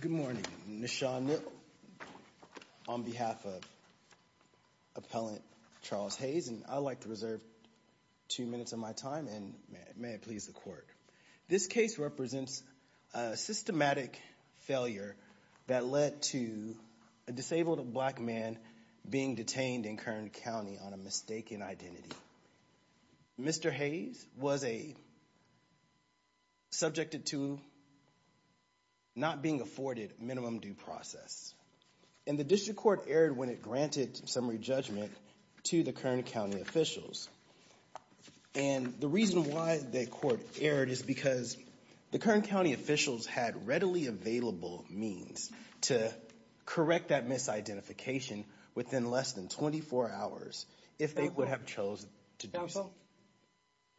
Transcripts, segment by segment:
Good morning, Ms. Shawn Mill on behalf of Appellant Charles Hayes and I'd like to reserve two minutes of my time and may it please the court. This case represents a systematic failure that led to a disabled black man being detained in Kern County on a mistaken identity. Mr. Hayes was a subjected to not being afforded minimum due process. And the district court erred when it granted summary judgment to the Kern County officials. And the reason why the court erred is because the Kern County officials had readily available means to correct that misidentification within less than 24 hours if they would have chosen to do so.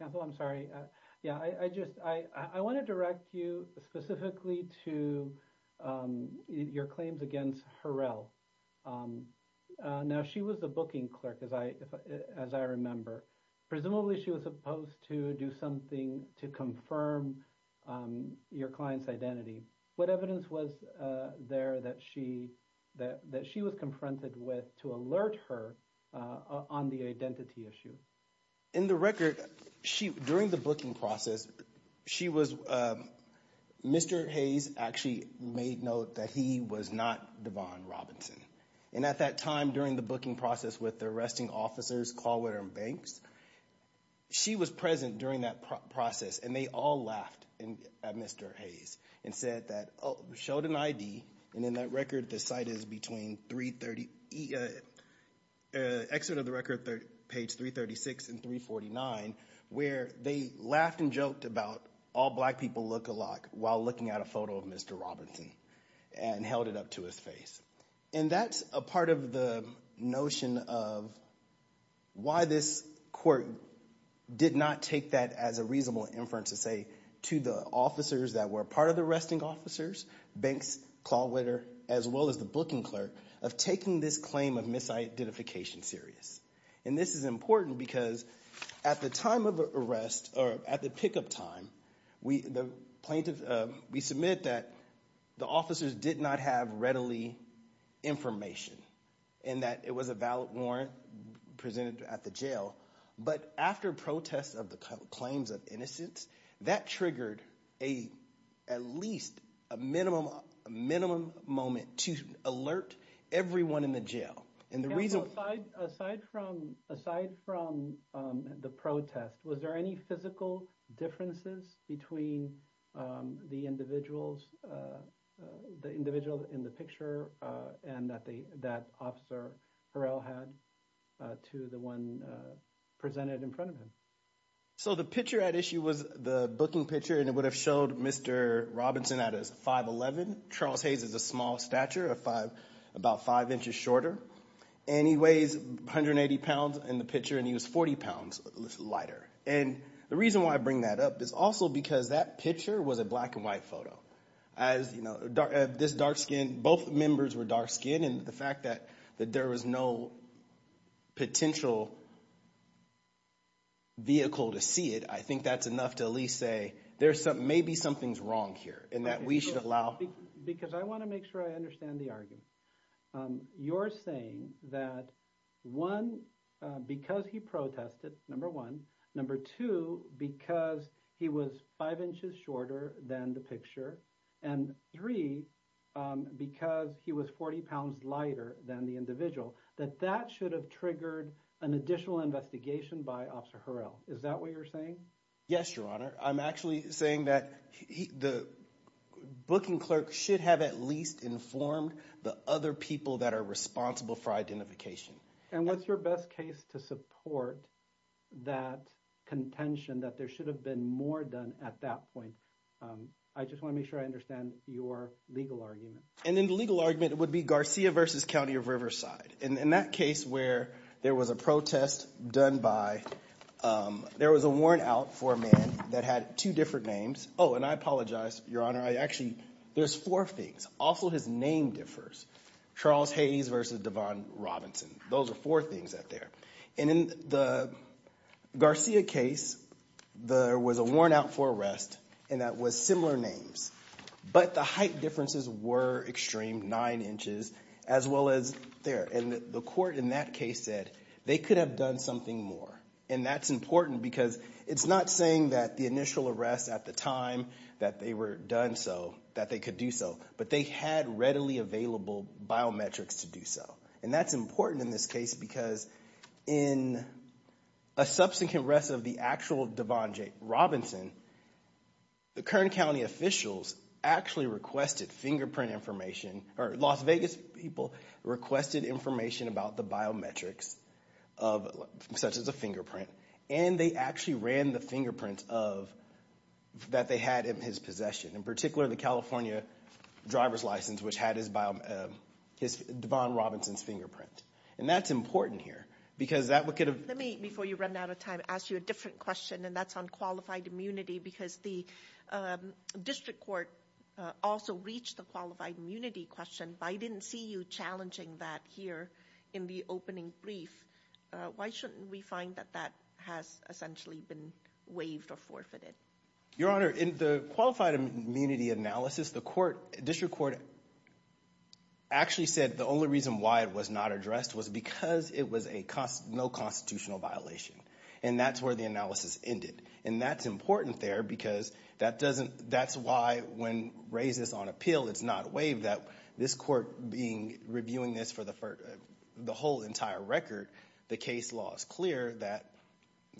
Counsel, I'm sorry. Yeah, I just I want to direct you specifically to your claims against Harrell. Now, she was the booking clerk, as I as I remember. Presumably, she was supposed to do something to confirm your client's identity. What evidence was there that she that that she was confronted with to alert her on the identity issue? In the record, she during the booking process, she was Mr. Hayes actually made note that he was not Devon Robinson. And at that time, during the booking process with the arresting officers, Callwater and Banks, she was present during that process. And they all laughed at Mr. Hayes and said that showed an ID. And in that record, the site is between 330. Exit of the record, page 336 and 349, where they laughed and joked about all black people look a lot while looking at a photo of Mr. Robinson and held it up to his face. And that's a part of the notion of why this court did not take that as a reasonable inference to say to the officers that were part of the arresting officers, Banks, Callwater, as well as the booking clerk of taking this claim of misidentification serious. And this is important because at the time of the arrest or at the pickup time, we the plaintiff, we submit that the officers did not have readily information and that it was a valid warrant presented at the jail. But after protests of the claims of innocence that triggered a at least a minimum minimum moment to alert everyone in the jail. And the reason aside from aside from the protest, was there any physical differences between the individuals, the individual in the picture and that the that officer had to the one presented in front of him? So the picture at issue was the booking picture, and it would have showed Mr. Robinson at a 511. Charles Hayes is a small stature of five, about five inches shorter. And he weighs 180 pounds in the picture and he was 40 pounds lighter. And the reason why I bring that up is also because that picture was a black and white photo. As you know, this dark skin, both members were dark skin and the fact that that there was no potential vehicle to see it. I think that's enough to at least say there's some maybe something's wrong here and that we should allow because I want to make sure I understand the argument you're saying that one, because he protested, number one, number two, because he was five inches shorter than the picture and three, because he was 40 pounds lighter than the individual, that that should have triggered an additional investigation by Officer Harrell. Is that what you're saying? Yes, Your Honor. I'm actually saying that the booking clerk should have at least informed the other people that are responsible for identification. And what's your best case to support that contention that there should have been more done at that point? I just want to make sure I understand your legal argument. And then the legal argument would be Garcia versus County of Riverside. And in that case where there was a protest done by, there was a worn out for a man that had two different names. Oh, and I apologize, Your Honor. I actually, there's four things. Also, his name differs. Charles Hayes versus Devon Robinson. Those are four things out there. And in the Garcia case, there was a worn out for arrest, and that was similar names. But the height differences were extreme, nine inches, as well as there. And the court in that case said they could have done something more. And that's important because it's not saying that the initial arrest at the time that they were done so, that they could do so. But they had readily available biometrics to do so. And that's important in this case because in a subsequent arrest of the actual Devon Robinson, the Kern County officials actually requested fingerprint information, or Las Vegas people requested information about the biometrics of, such as a fingerprint. And they actually ran the fingerprint of, that they had in his possession. In particular, the California driver's license, which had his, Devon Robinson's fingerprint. And that's important here because that could have. Let me, before you run out of time, ask you a different question, and that's on qualified immunity. Because the district court also reached the qualified immunity question. But I didn't see you challenging that here in the opening brief. Why shouldn't we find that that has essentially been waived or forfeited? Your Honor, in the qualified immunity analysis, the court, district court, actually said the only reason why it was not addressed was because it was a, no constitutional violation. And that's where the analysis ended. And that's important there because that doesn't, that's why when raises on appeal, it's not waived. That this court being, reviewing this for the whole entire record, the case law is clear that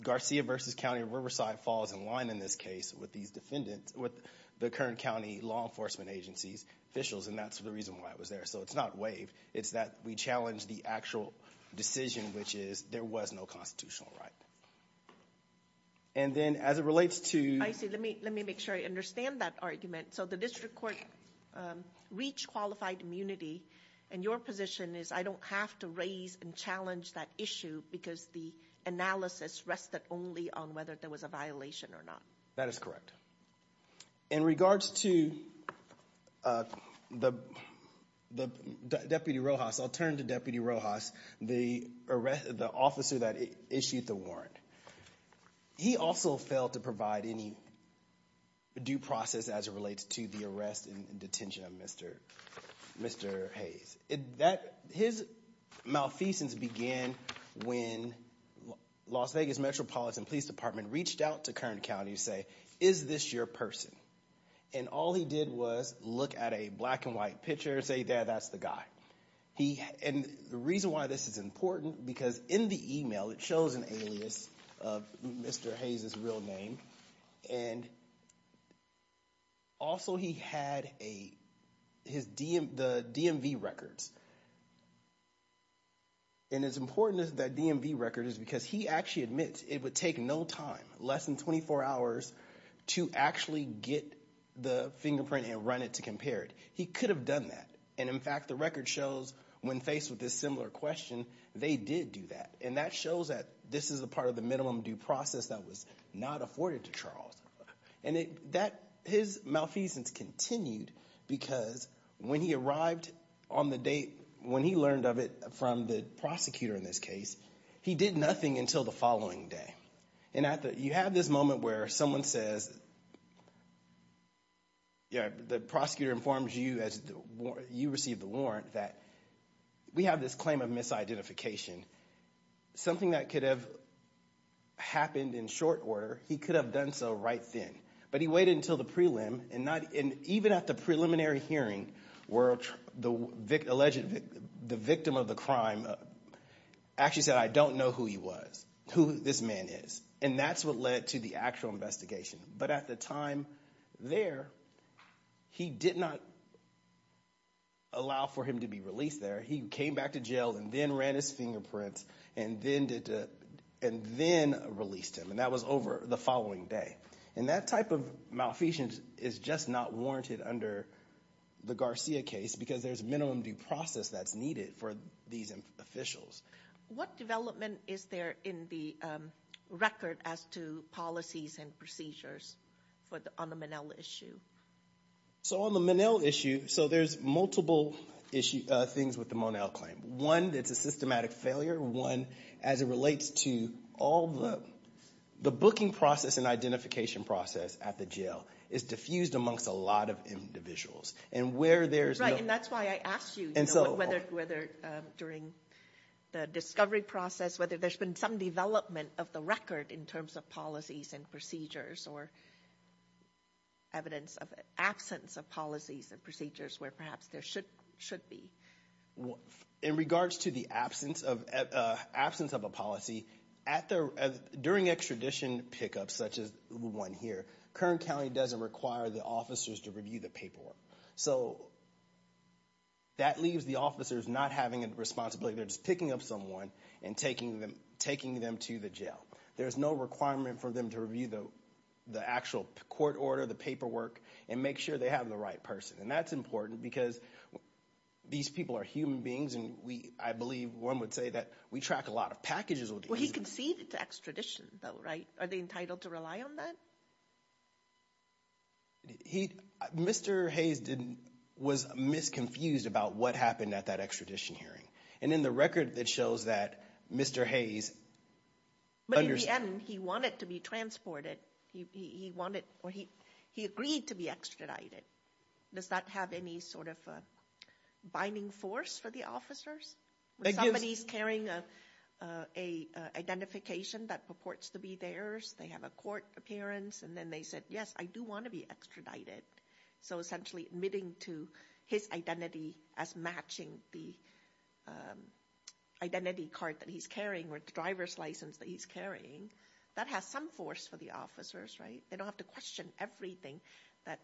Garcia versus County of Riverside falls in line in this case with these defendants. With the current county law enforcement agencies, officials, and that's the reason why it was there. So it's not waived. It's that we challenge the actual decision, which is there was no constitutional right. And then as it relates to- I see, let me make sure I understand that argument. So the district court reached qualified immunity. And your position is I don't have to raise and challenge that issue because the analysis rested only on whether there was a violation or not. That is correct. In regards to the Deputy Rojas, I'll turn to Deputy Rojas, the officer that issued the warrant. He also failed to provide any due process as it relates to the arrest and detention of Mr. Hayes. His malfeasance began when Las Vegas Metropolitan Police Department reached out to Kern County to say, is this your person? And all he did was look at a black and white picture and say, yeah, that's the guy. And the reason why this is important, because in the email it shows an alias of Mr. Hayes' real name. And also he had the DMV records. And as important as that DMV record is because he actually admits it would take no time, less than 24 hours, to actually get the fingerprint and run it to compare it. He could have done that. And in fact, the record shows when faced with this similar question, they did do that. And that shows that this is a part of the minimum due process that was not afforded to Charles. And his malfeasance continued because when he arrived on the date, when he learned of it from the prosecutor in this case, he did nothing until the following day. And you have this moment where someone says, the prosecutor informs you as you receive the warrant that we have this claim of misidentification. Something that could have happened in short order, he could have done so right then. But he waited until the prelim, and even at the preliminary hearing where the alleged, the victim of the crime actually said I don't know who he was, who this man is. And that's what led to the actual investigation. But at the time there, he did not allow for him to be released there. He came back to jail and then ran his fingerprints and then released him. And that was over the following day. And that type of malfeasance is just not warranted under the Garcia case because there's minimum due process that's needed for these officials. What development is there in the record as to policies and procedures on the Monel issue? So on the Monel issue, so there's multiple things with the Monel claim. One, it's a systematic failure. One, as it relates to all the booking process and identification process at the jail is diffused amongst a lot of individuals. And where there's- And that's why I asked you whether during the discovery process, whether there's been some development of the record in terms of policies and procedures or evidence of absence of policies and procedures where perhaps there should be. In regards to the absence of a policy, during extradition pickups, such as the one here, Kern County doesn't require the officers to review the paperwork. So that leaves the officers not having a responsibility. They're just picking up someone and taking them to the jail. There's no requirement for them to review the actual court order, the paperwork, and make sure they have the right person. And that's important because these people are human beings, and I believe one would say that we track a lot of packages with these people. Well, he conceded to extradition, though, right? Are they entitled to rely on that? He, Mr. Hayes was misconfused about what happened at that extradition hearing. And in the record, it shows that Mr. Hayes- But in the end, he wanted to be transported. He wanted, or he agreed to be extradited. Does that have any sort of binding force for the officers? When somebody's carrying an identification that purports to be theirs, they have a court appearance, and then they said, yes, I do want to be extradited. So essentially, admitting to his identity as matching the identity card that he's carrying, or the driver's license that he's carrying, that has some force for the officers, right? They don't have to question everything that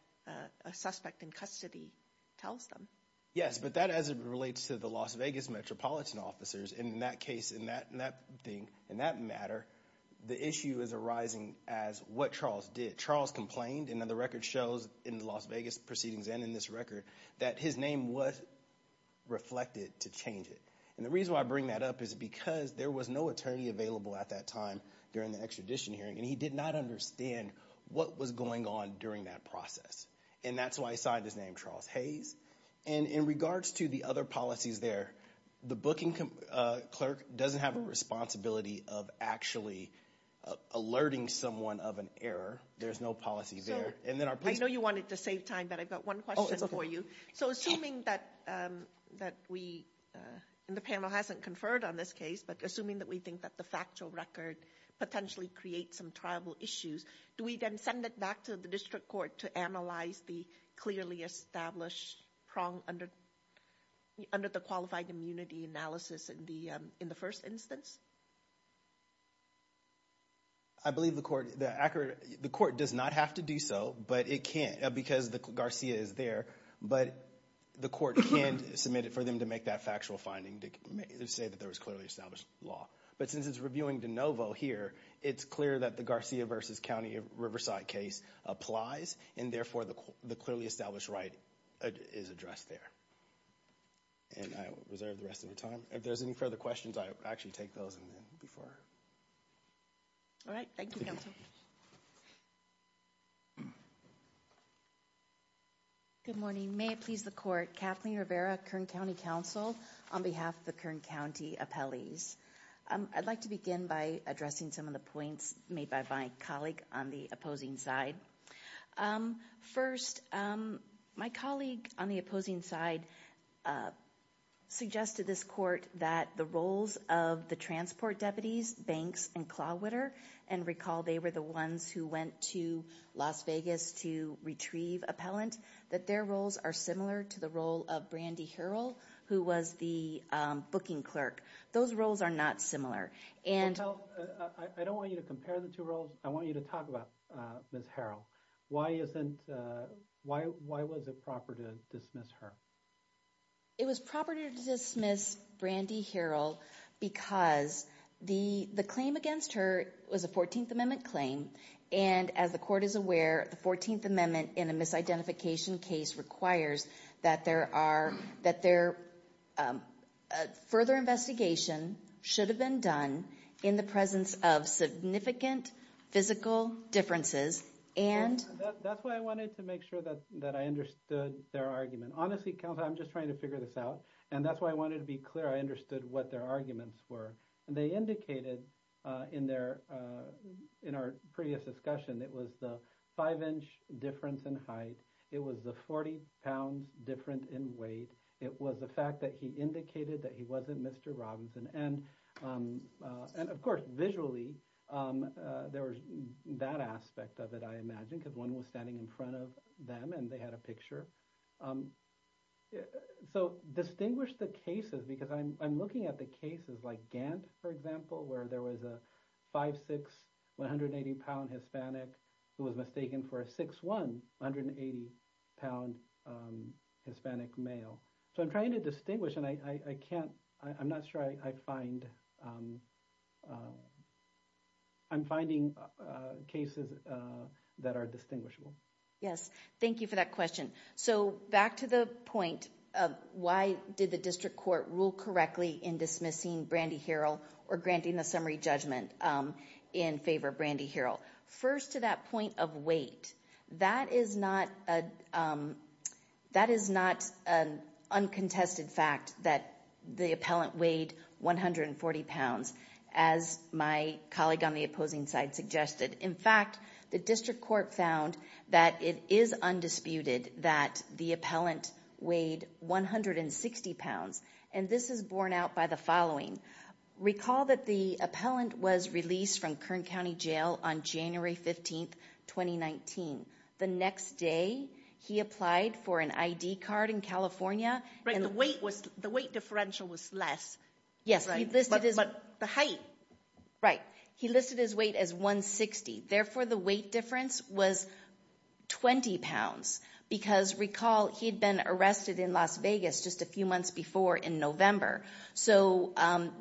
a suspect in custody tells them. Yes, but that as it relates to the Las Vegas Metropolitan officers, in that case, in that thing, in that matter, the issue is arising as what Charles did. Charles complained, and the record shows in the Las Vegas proceedings and in this record, that his name was reflected to change it. And the reason why I bring that up is because there was no attorney available at that time during the extradition hearing, and he did not understand what was going on during that process. And that's why he signed his name, Charles Hayes. And in regards to the other policies there, the booking clerk doesn't have a responsibility of actually alerting someone of an error. There's no policy there. And then our- I know you wanted to save time, but I've got one question for you. So assuming that we, and the panel hasn't conferred on this case, but assuming that we think that the factual record potentially creates some tribal issues, do we then send it back to the district court to analyze the clearly established prong under the qualified immunity analysis in the first instance? I believe the court, the court does not have to do so, but it can't, because Garcia is there. But the court can submit it for them to make that factual finding, to say that there was clearly established law. But since it's reviewing de novo here, it's clear that the Garcia versus County of Riverside case applies, and therefore the clearly established right is addressed there. And I will reserve the rest of your time. If there's any further questions, I actually take those and then before. All right. Thank you, counsel. Good morning. May it please the court. Kathleen Rivera, Kern County Council, on behalf of the Kern County appellees. I'd like to begin by addressing some of the points made by my colleague on the opposing side. First, my colleague on the opposing side suggested this court that the roles of the transport deputies, Banks and Clawwitter, and recall they were the ones who went to Las Vegas to retrieve appellant. That their roles are similar to the role of Brandy Herold, who was the booking clerk. Those roles are not similar. And I don't want you to compare the two roles. I want you to talk about Ms. Herold. Why was it proper to dismiss her? It was proper to dismiss Brandy Herold because the claim against her was a 14th Amendment claim. And as the court is aware, the 14th Amendment in a misidentification case requires that there are, that there, further investigation should have been done in the presence of significant physical differences. And that's why I wanted to make sure that I understood their argument. Honestly, counsel, I'm just trying to figure this out. And that's why I wanted to be clear I understood what their arguments were. And they indicated in their, in our previous discussion, it was the five inch difference in height. It was the 40 pounds difference in weight. It was the fact that he indicated that he wasn't Mr. Robinson. And of course, visually, there was that aspect of it, I imagine, because one was standing in front of them and they had a picture. So distinguish the cases because I'm looking at the cases like Gant, for example, where there was a 5'6", 180 pound Hispanic who was mistaken for a 6'1", 180 pound Hispanic male. So I'm trying to distinguish and I can't, I'm not sure I find, I'm finding cases that are distinguishable. Yes, thank you for that question. So back to the point of why did the district court rule correctly in dismissing Brandy Herold or granting the summary judgment in favor of Brandy Herold? First, to that point of weight. That is not an uncontested fact that the appellant weighed 140 pounds, as my colleague on the opposing side suggested. In fact, the district court found that it is undisputed that the appellant weighed 160 pounds. And this is borne out by the following. Recall that the appellant was released from Kern County Jail on January 15, 2019. The next day, he applied for an ID card in California. Right, the weight was, the weight differential was less. Yes, but the height. Right. He listed his weight as 160. Therefore, the weight difference was 20 pounds. Because recall, he'd been arrested in Las Vegas just a few months before in November. So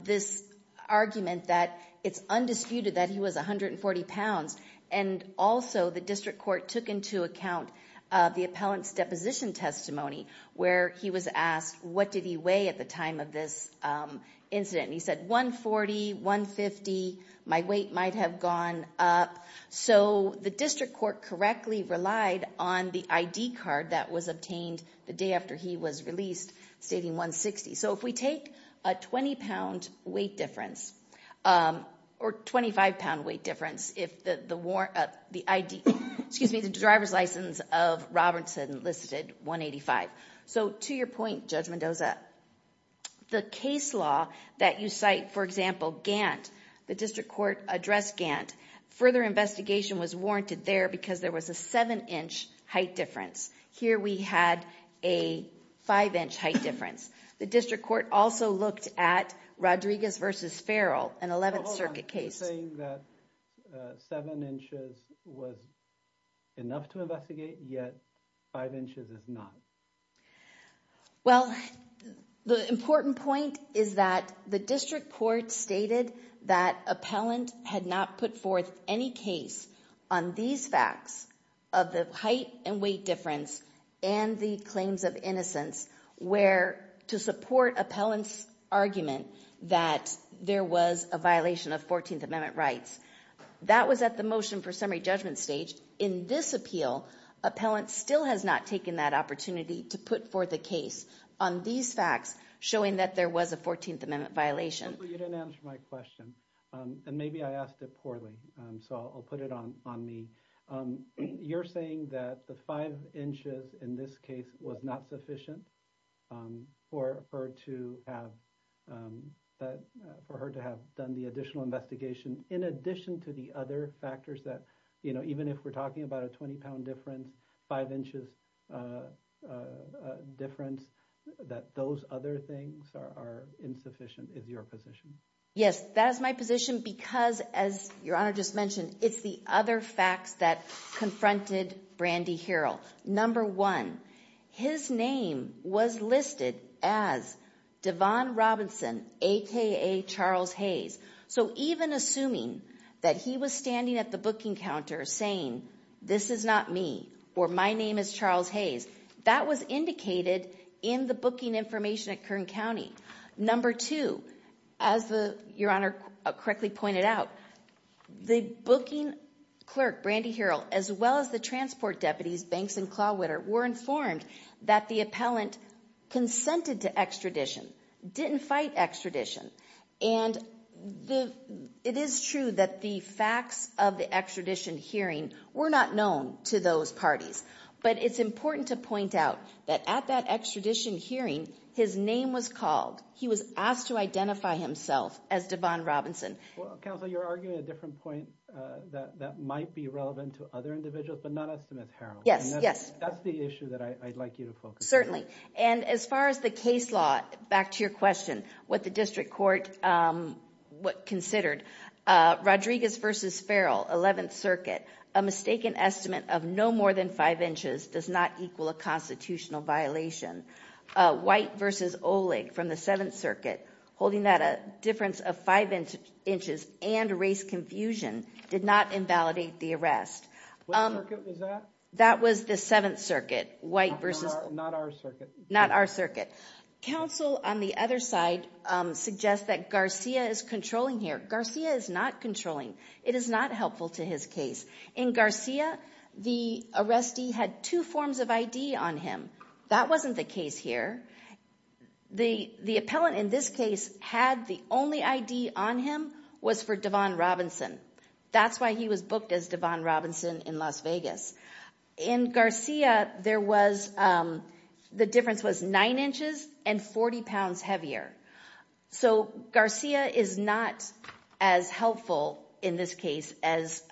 this argument that it's undisputed that he was 140 pounds. And also, the district court took into account the appellant's deposition testimony, where he was asked what did he weigh at the time of this incident. He said 140, 150, my weight might have gone up. So the district court correctly relied on the ID card that was obtained the day after he was released, stating 160. So if we take a 20-pound weight difference, or 25-pound weight difference, if the ID, excuse me, the driver's license of Robertson listed 185. So to your point, Judge Mendoza, the case law that you cite, for example, Gantt, the district court addressed Gantt. Further investigation was warranted there because there was a 7-inch height difference. Here we had a 5-inch height difference. The district court also looked at Rodriguez v. Farrell, an 11th Circuit case. You're saying that 7 inches was enough to investigate, yet 5 inches is not. Well, the important point is that the district court stated that appellant had not put forth any case on these facts of the height and weight difference and the claims of innocence where to support appellant's argument that there was a violation of 14th Amendment rights. That was at the motion for summary judgment stage. In this appeal, appellant still has not taken that opportunity to put forth a case on these facts showing that there was a 14th Amendment violation. You didn't answer my question, and maybe I asked it poorly, so I'll put it on me. You're saying that the 5 inches in this case was not sufficient for her to have done the additional investigation in addition to the other factors that, you know, even if we're talking about a 20-pound difference, 5 inches difference, that those other things are insufficient is your position? Yes, that is my position because, as Your Honor just mentioned, it's the other facts that confronted Brandy Herold. Number one, his name was listed as Devon Robinson, aka Charles Hayes. So even assuming that he was standing at the booking counter saying, this is not me, or my name is Charles Hayes, that was indicated in the booking information at Kern County. Number two, as Your Honor correctly pointed out, the booking clerk, Brandy Herold, as well as the transport deputies, Banks and Clauwitter, were informed that the appellant consented to extradition, didn't fight extradition, and it is true that the facts of the extradition hearing were not known to those parties, but it's important to point out that at that extradition hearing, his name was called. He was asked to identify himself as Devon Robinson. Counsel, you're arguing a different point that might be relevant to other individuals, but not as to Ms. Herold. Yes, yes. That's the issue that I'd like you to focus on. Certainly, and as far as the case law, back to your question, what the district court considered, Rodriguez versus Farrell, 11th Circuit, a mistaken estimate of no more than five inches does not equal a constitutional violation. White versus Oleg from the 7th Circuit, holding that a difference of five inches and race confusion did not invalidate the arrest. What circuit was that? That was the 7th Circuit, White versus... Not our circuit. Not our circuit. Counsel, on the other side, suggests that Garcia is controlling here. Garcia is not controlling. It is not helpful to his case. In Garcia, the arrestee had two forms of ID on him. That wasn't the case here. The appellant in this case had the only ID on him was for Devon Robinson. That's why he was booked as Devon Robinson in Las Vegas. In Garcia, the difference was nine inches and 40 pounds heavier. Garcia is not as helpful in this case as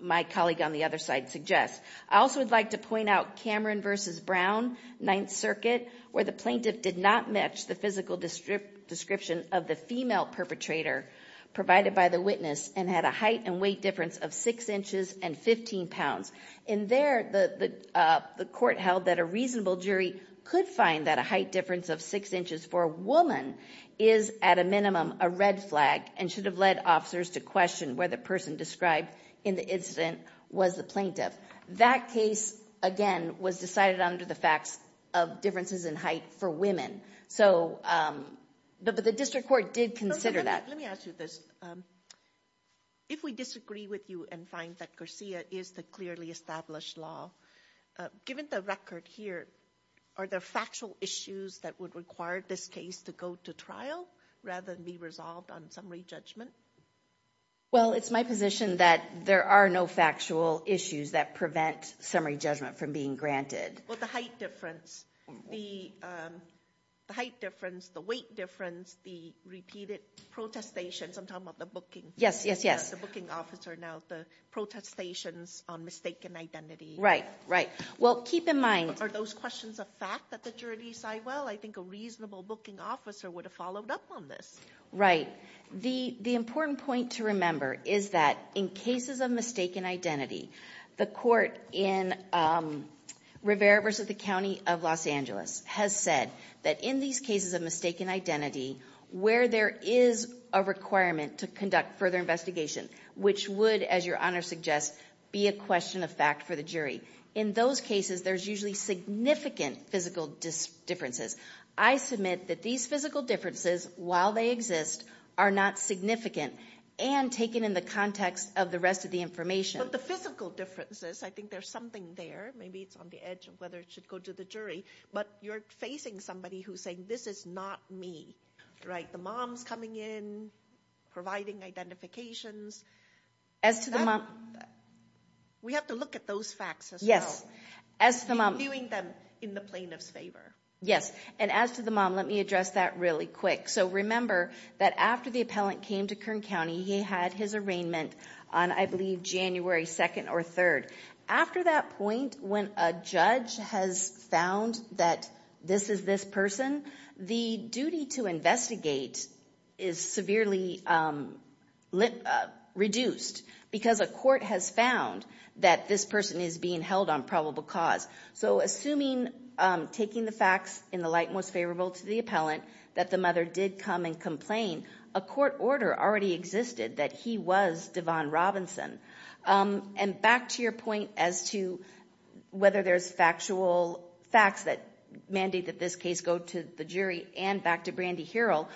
my colleague on the other side suggests. I also would like to point out Cameron versus Brown, 9th Circuit, where the plaintiff did not match the physical description of the female perpetrator provided by the witness and had a height and weight difference of six inches and 15 pounds. In there, the court held that a reasonable jury could find that a height difference of six inches for a woman is, at a minimum, a red flag and should have led officers to question whether the person described in the incident was the plaintiff. That case, again, was decided under the facts of differences in height for women. But the district court did consider that. Let me ask you this. If we disagree with you and find that Garcia is the clearly established law, given the record here, are there factual issues that would require this case to go to trial rather than be resolved on summary judgment? Well, it's my position that there are no factual issues that prevent summary judgment from being granted. Well, the height difference, the height difference, the weight difference, the repeated protestations. I'm talking about the booking. Yes, yes, yes. The booking officer. Now, the protestations on mistaken identity. Right, right. Well, keep in mind... Are those questions a fact that the jury decide? Well, I think a reasonable booking officer would have followed up on this. Right. The important point to remember is that in cases of mistaken identity, the court in Rivera versus the County of Los Angeles has said that in these cases of mistaken identity, where there is a requirement to conduct further investigation, which would, as your Honor suggests, be a question of fact for the jury. In those cases, there's usually significant physical differences. I submit that these physical differences, while they exist, are not significant and taken in the context of the rest of the information. But the physical differences, I think there's something there. Maybe it's on the edge of whether it should go to the jury. But you're facing somebody who's saying, this is not me. Right. The mom's coming in, providing identifications. As to the mom... We have to look at those facts as well. Yes. As to the mom... Reviewing them in the plaintiff's favor. Yes. And as to the mom, let me address that really quick. So remember that after the appellant came to Kern County, he had his arraignment on, I believe, January 2nd or 3rd. After that point, when a judge has found that this is this person, the duty to investigate is severely reduced. Because a court has found that this person is being held on probable cause. So assuming, taking the facts in the light most favorable to the appellant, that the mother did come and complain, a court order already existed that he was Devon Robinson. And back to your point as to whether there's factual facts that mandate that this case go to the jury and back to Brandy Herold.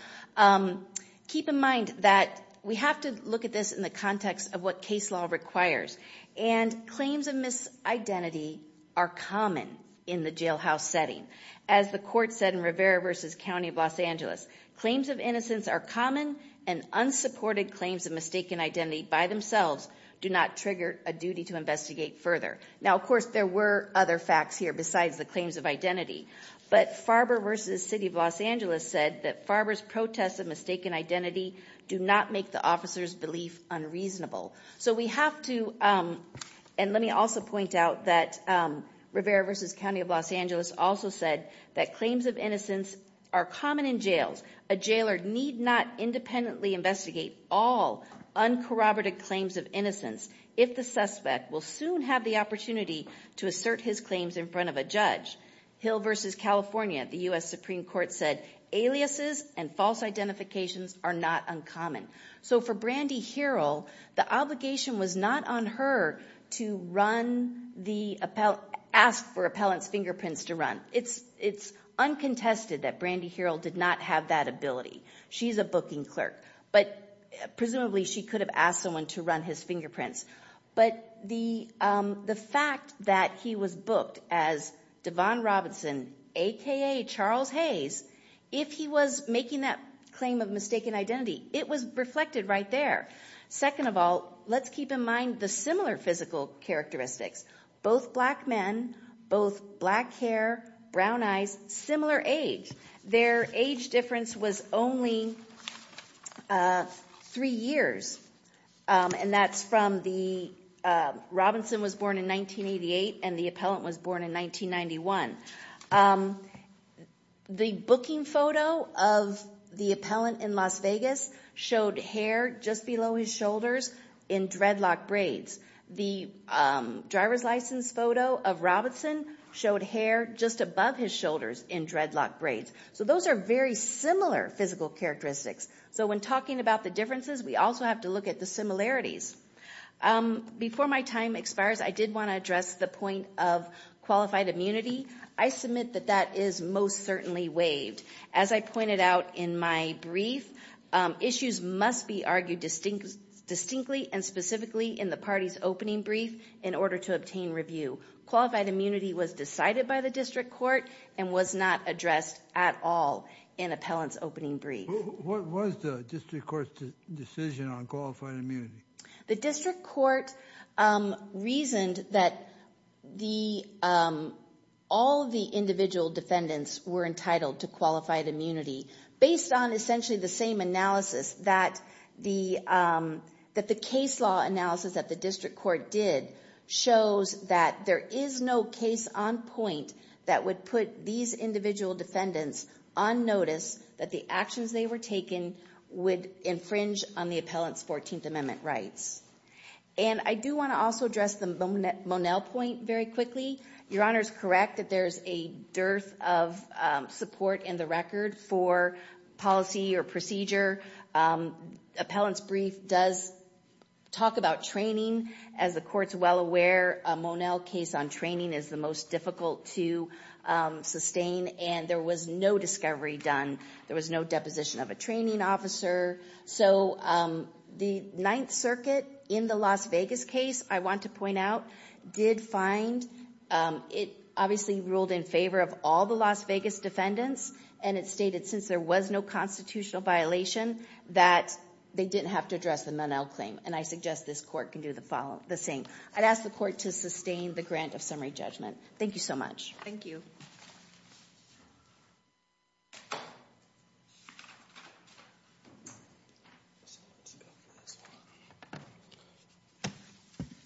Keep in mind that we have to look at this in the context of what case law requires. And claims of misidentity are common in the jailhouse setting. As the court said in Rivera v. County of Los Angeles, claims of innocence are common and unsupported claims of mistaken identity by themselves do not trigger a duty to investigate further. Now, of course, there were other facts here besides the claims of identity. But Farber v. City of Los Angeles said that Farber's protests of mistaken identity do not make the officer's belief unreasonable. So we have to, and let me also point out that Rivera v. County of Los Angeles also said that claims of innocence are common in jails. A jailer need not independently investigate all uncorroborated claims of innocence if the suspect will soon have the opportunity to assert his claims in front of a judge. Hill v. California, the U.S. Supreme Court said, aliases and false identifications are not uncommon. So for Brandy Herold, the obligation was not on her to ask for appellant's fingerprints to run. It's uncontested that Brandy Herold did not have that ability. She's a booking clerk. But presumably she could have asked someone to run his fingerprints. But the fact that he was booked as Devon Robinson, aka Charles Hayes, if he was making that claim of mistaken identity, it was reflected right there. Second of all, let's keep in mind the similar physical characteristics. Both black men, both black hair, brown eyes, similar age. Their age difference was only three years. And that's from the, Robinson was born in 1988 and the appellant was born in 1991. The booking photo of the appellant in Las Vegas showed hair just below his shoulders in dreadlock braids. The driver's license photo of Robinson showed hair just above his shoulders in dreadlock braids. So those are very similar physical characteristics. So when talking about the differences, we also have to look at the similarities. Before my time expires, I did want to address the point of qualified immunity. I submit that that is most certainly waived. As I pointed out in my brief, issues must be argued distinctly and specifically in the party's opening brief in order to obtain review. Qualified immunity was decided by the district court and was not addressed at all in appellant's opening brief. What was the district court's decision on qualified immunity? The district court reasoned that the, all of the individual defendants were entitled to qualified immunity based on essentially the same analysis that the case law analysis that the district court did shows that there is no case on point that would put these individual defendants on notice that the actions they were taking would infringe on the appellant's 14th Amendment rights. And I do want to also address the Monell point very quickly. Your Honor's correct that there's a dearth of support in the record for policy or procedure. Appellant's brief does talk about training. As the court's well aware, a Monell case on training is the most difficult to sustain and there was no discovery done. There was no deposition of a training officer. So the Ninth Circuit in the Las Vegas case, I want to point out, did find, it obviously ruled in favor of all the Las Vegas defendants and it stated since there was no constitutional violation that they didn't have to address the Monell claim. And I suggest this court can do the same. I'd ask the court to sustain the grant of summary judgment. Thank you so much. Thank you.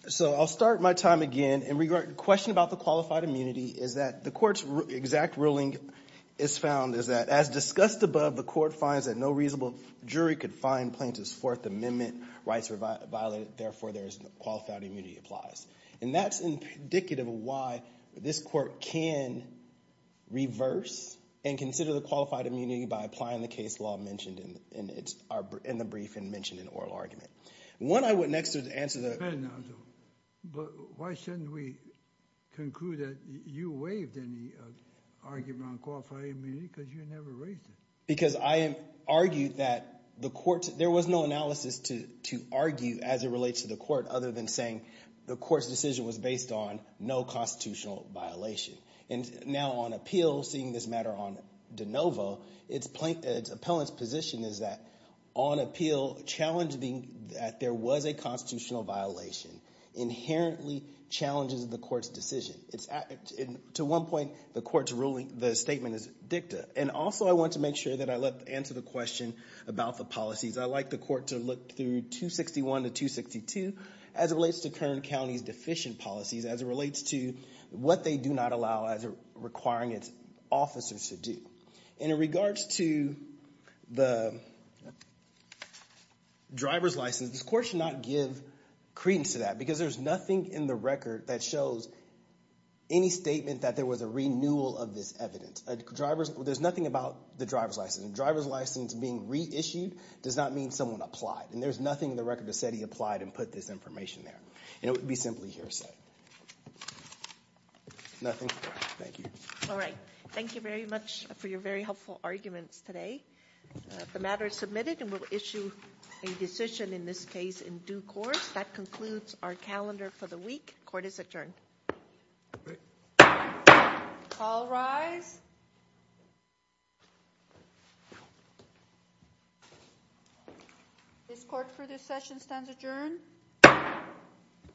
So I'll start my time again. In regard to the question about the qualified immunity is that the court's exact ruling is found is that as discussed above, the court finds that no reasonable jury could find plaintiff's Fourth Amendment rights violated. Therefore, there is no qualified immunity applies. And that's indicative of why this court can reverse and consider the qualified immunity by applying the case law mentioned in the brief and mentioned in oral argument. When I went next to answer the- But why shouldn't we conclude that you waived any argument on qualified immunity because you never raised it? Because I argued that the court, there was no analysis to argue as it relates to the court other than saying the court's decision was based on no constitutional violation. And now on appeal, seeing this matter on de novo, its appellant's position is that on appeal, challenging that there was a constitutional violation inherently challenges the court's decision. To one point, the court's ruling, the statement is dicta. And also I want to make sure that I answer the question about the policies. I like the court to look through 261 to 262 as it relates to Kern County's deficient policies, as it relates to what they do not allow as requiring its officers to do. And in regards to the driver's license, this court should not give credence to that because there's nothing in the record that shows any statement that there was a renewal of this evidence. There's nothing about the driver's license. Driver's license being reissued does not mean someone applied. And there's nothing in the record that said he applied and put this information there. And it would be simply hearsay. Nothing, thank you. All right, thank you very much for your very helpful arguments today. The matter is submitted and we'll issue a decision in this case in due course. That concludes our calendar for the week. Court is adjourned. All rise. This court for this session stands adjourned.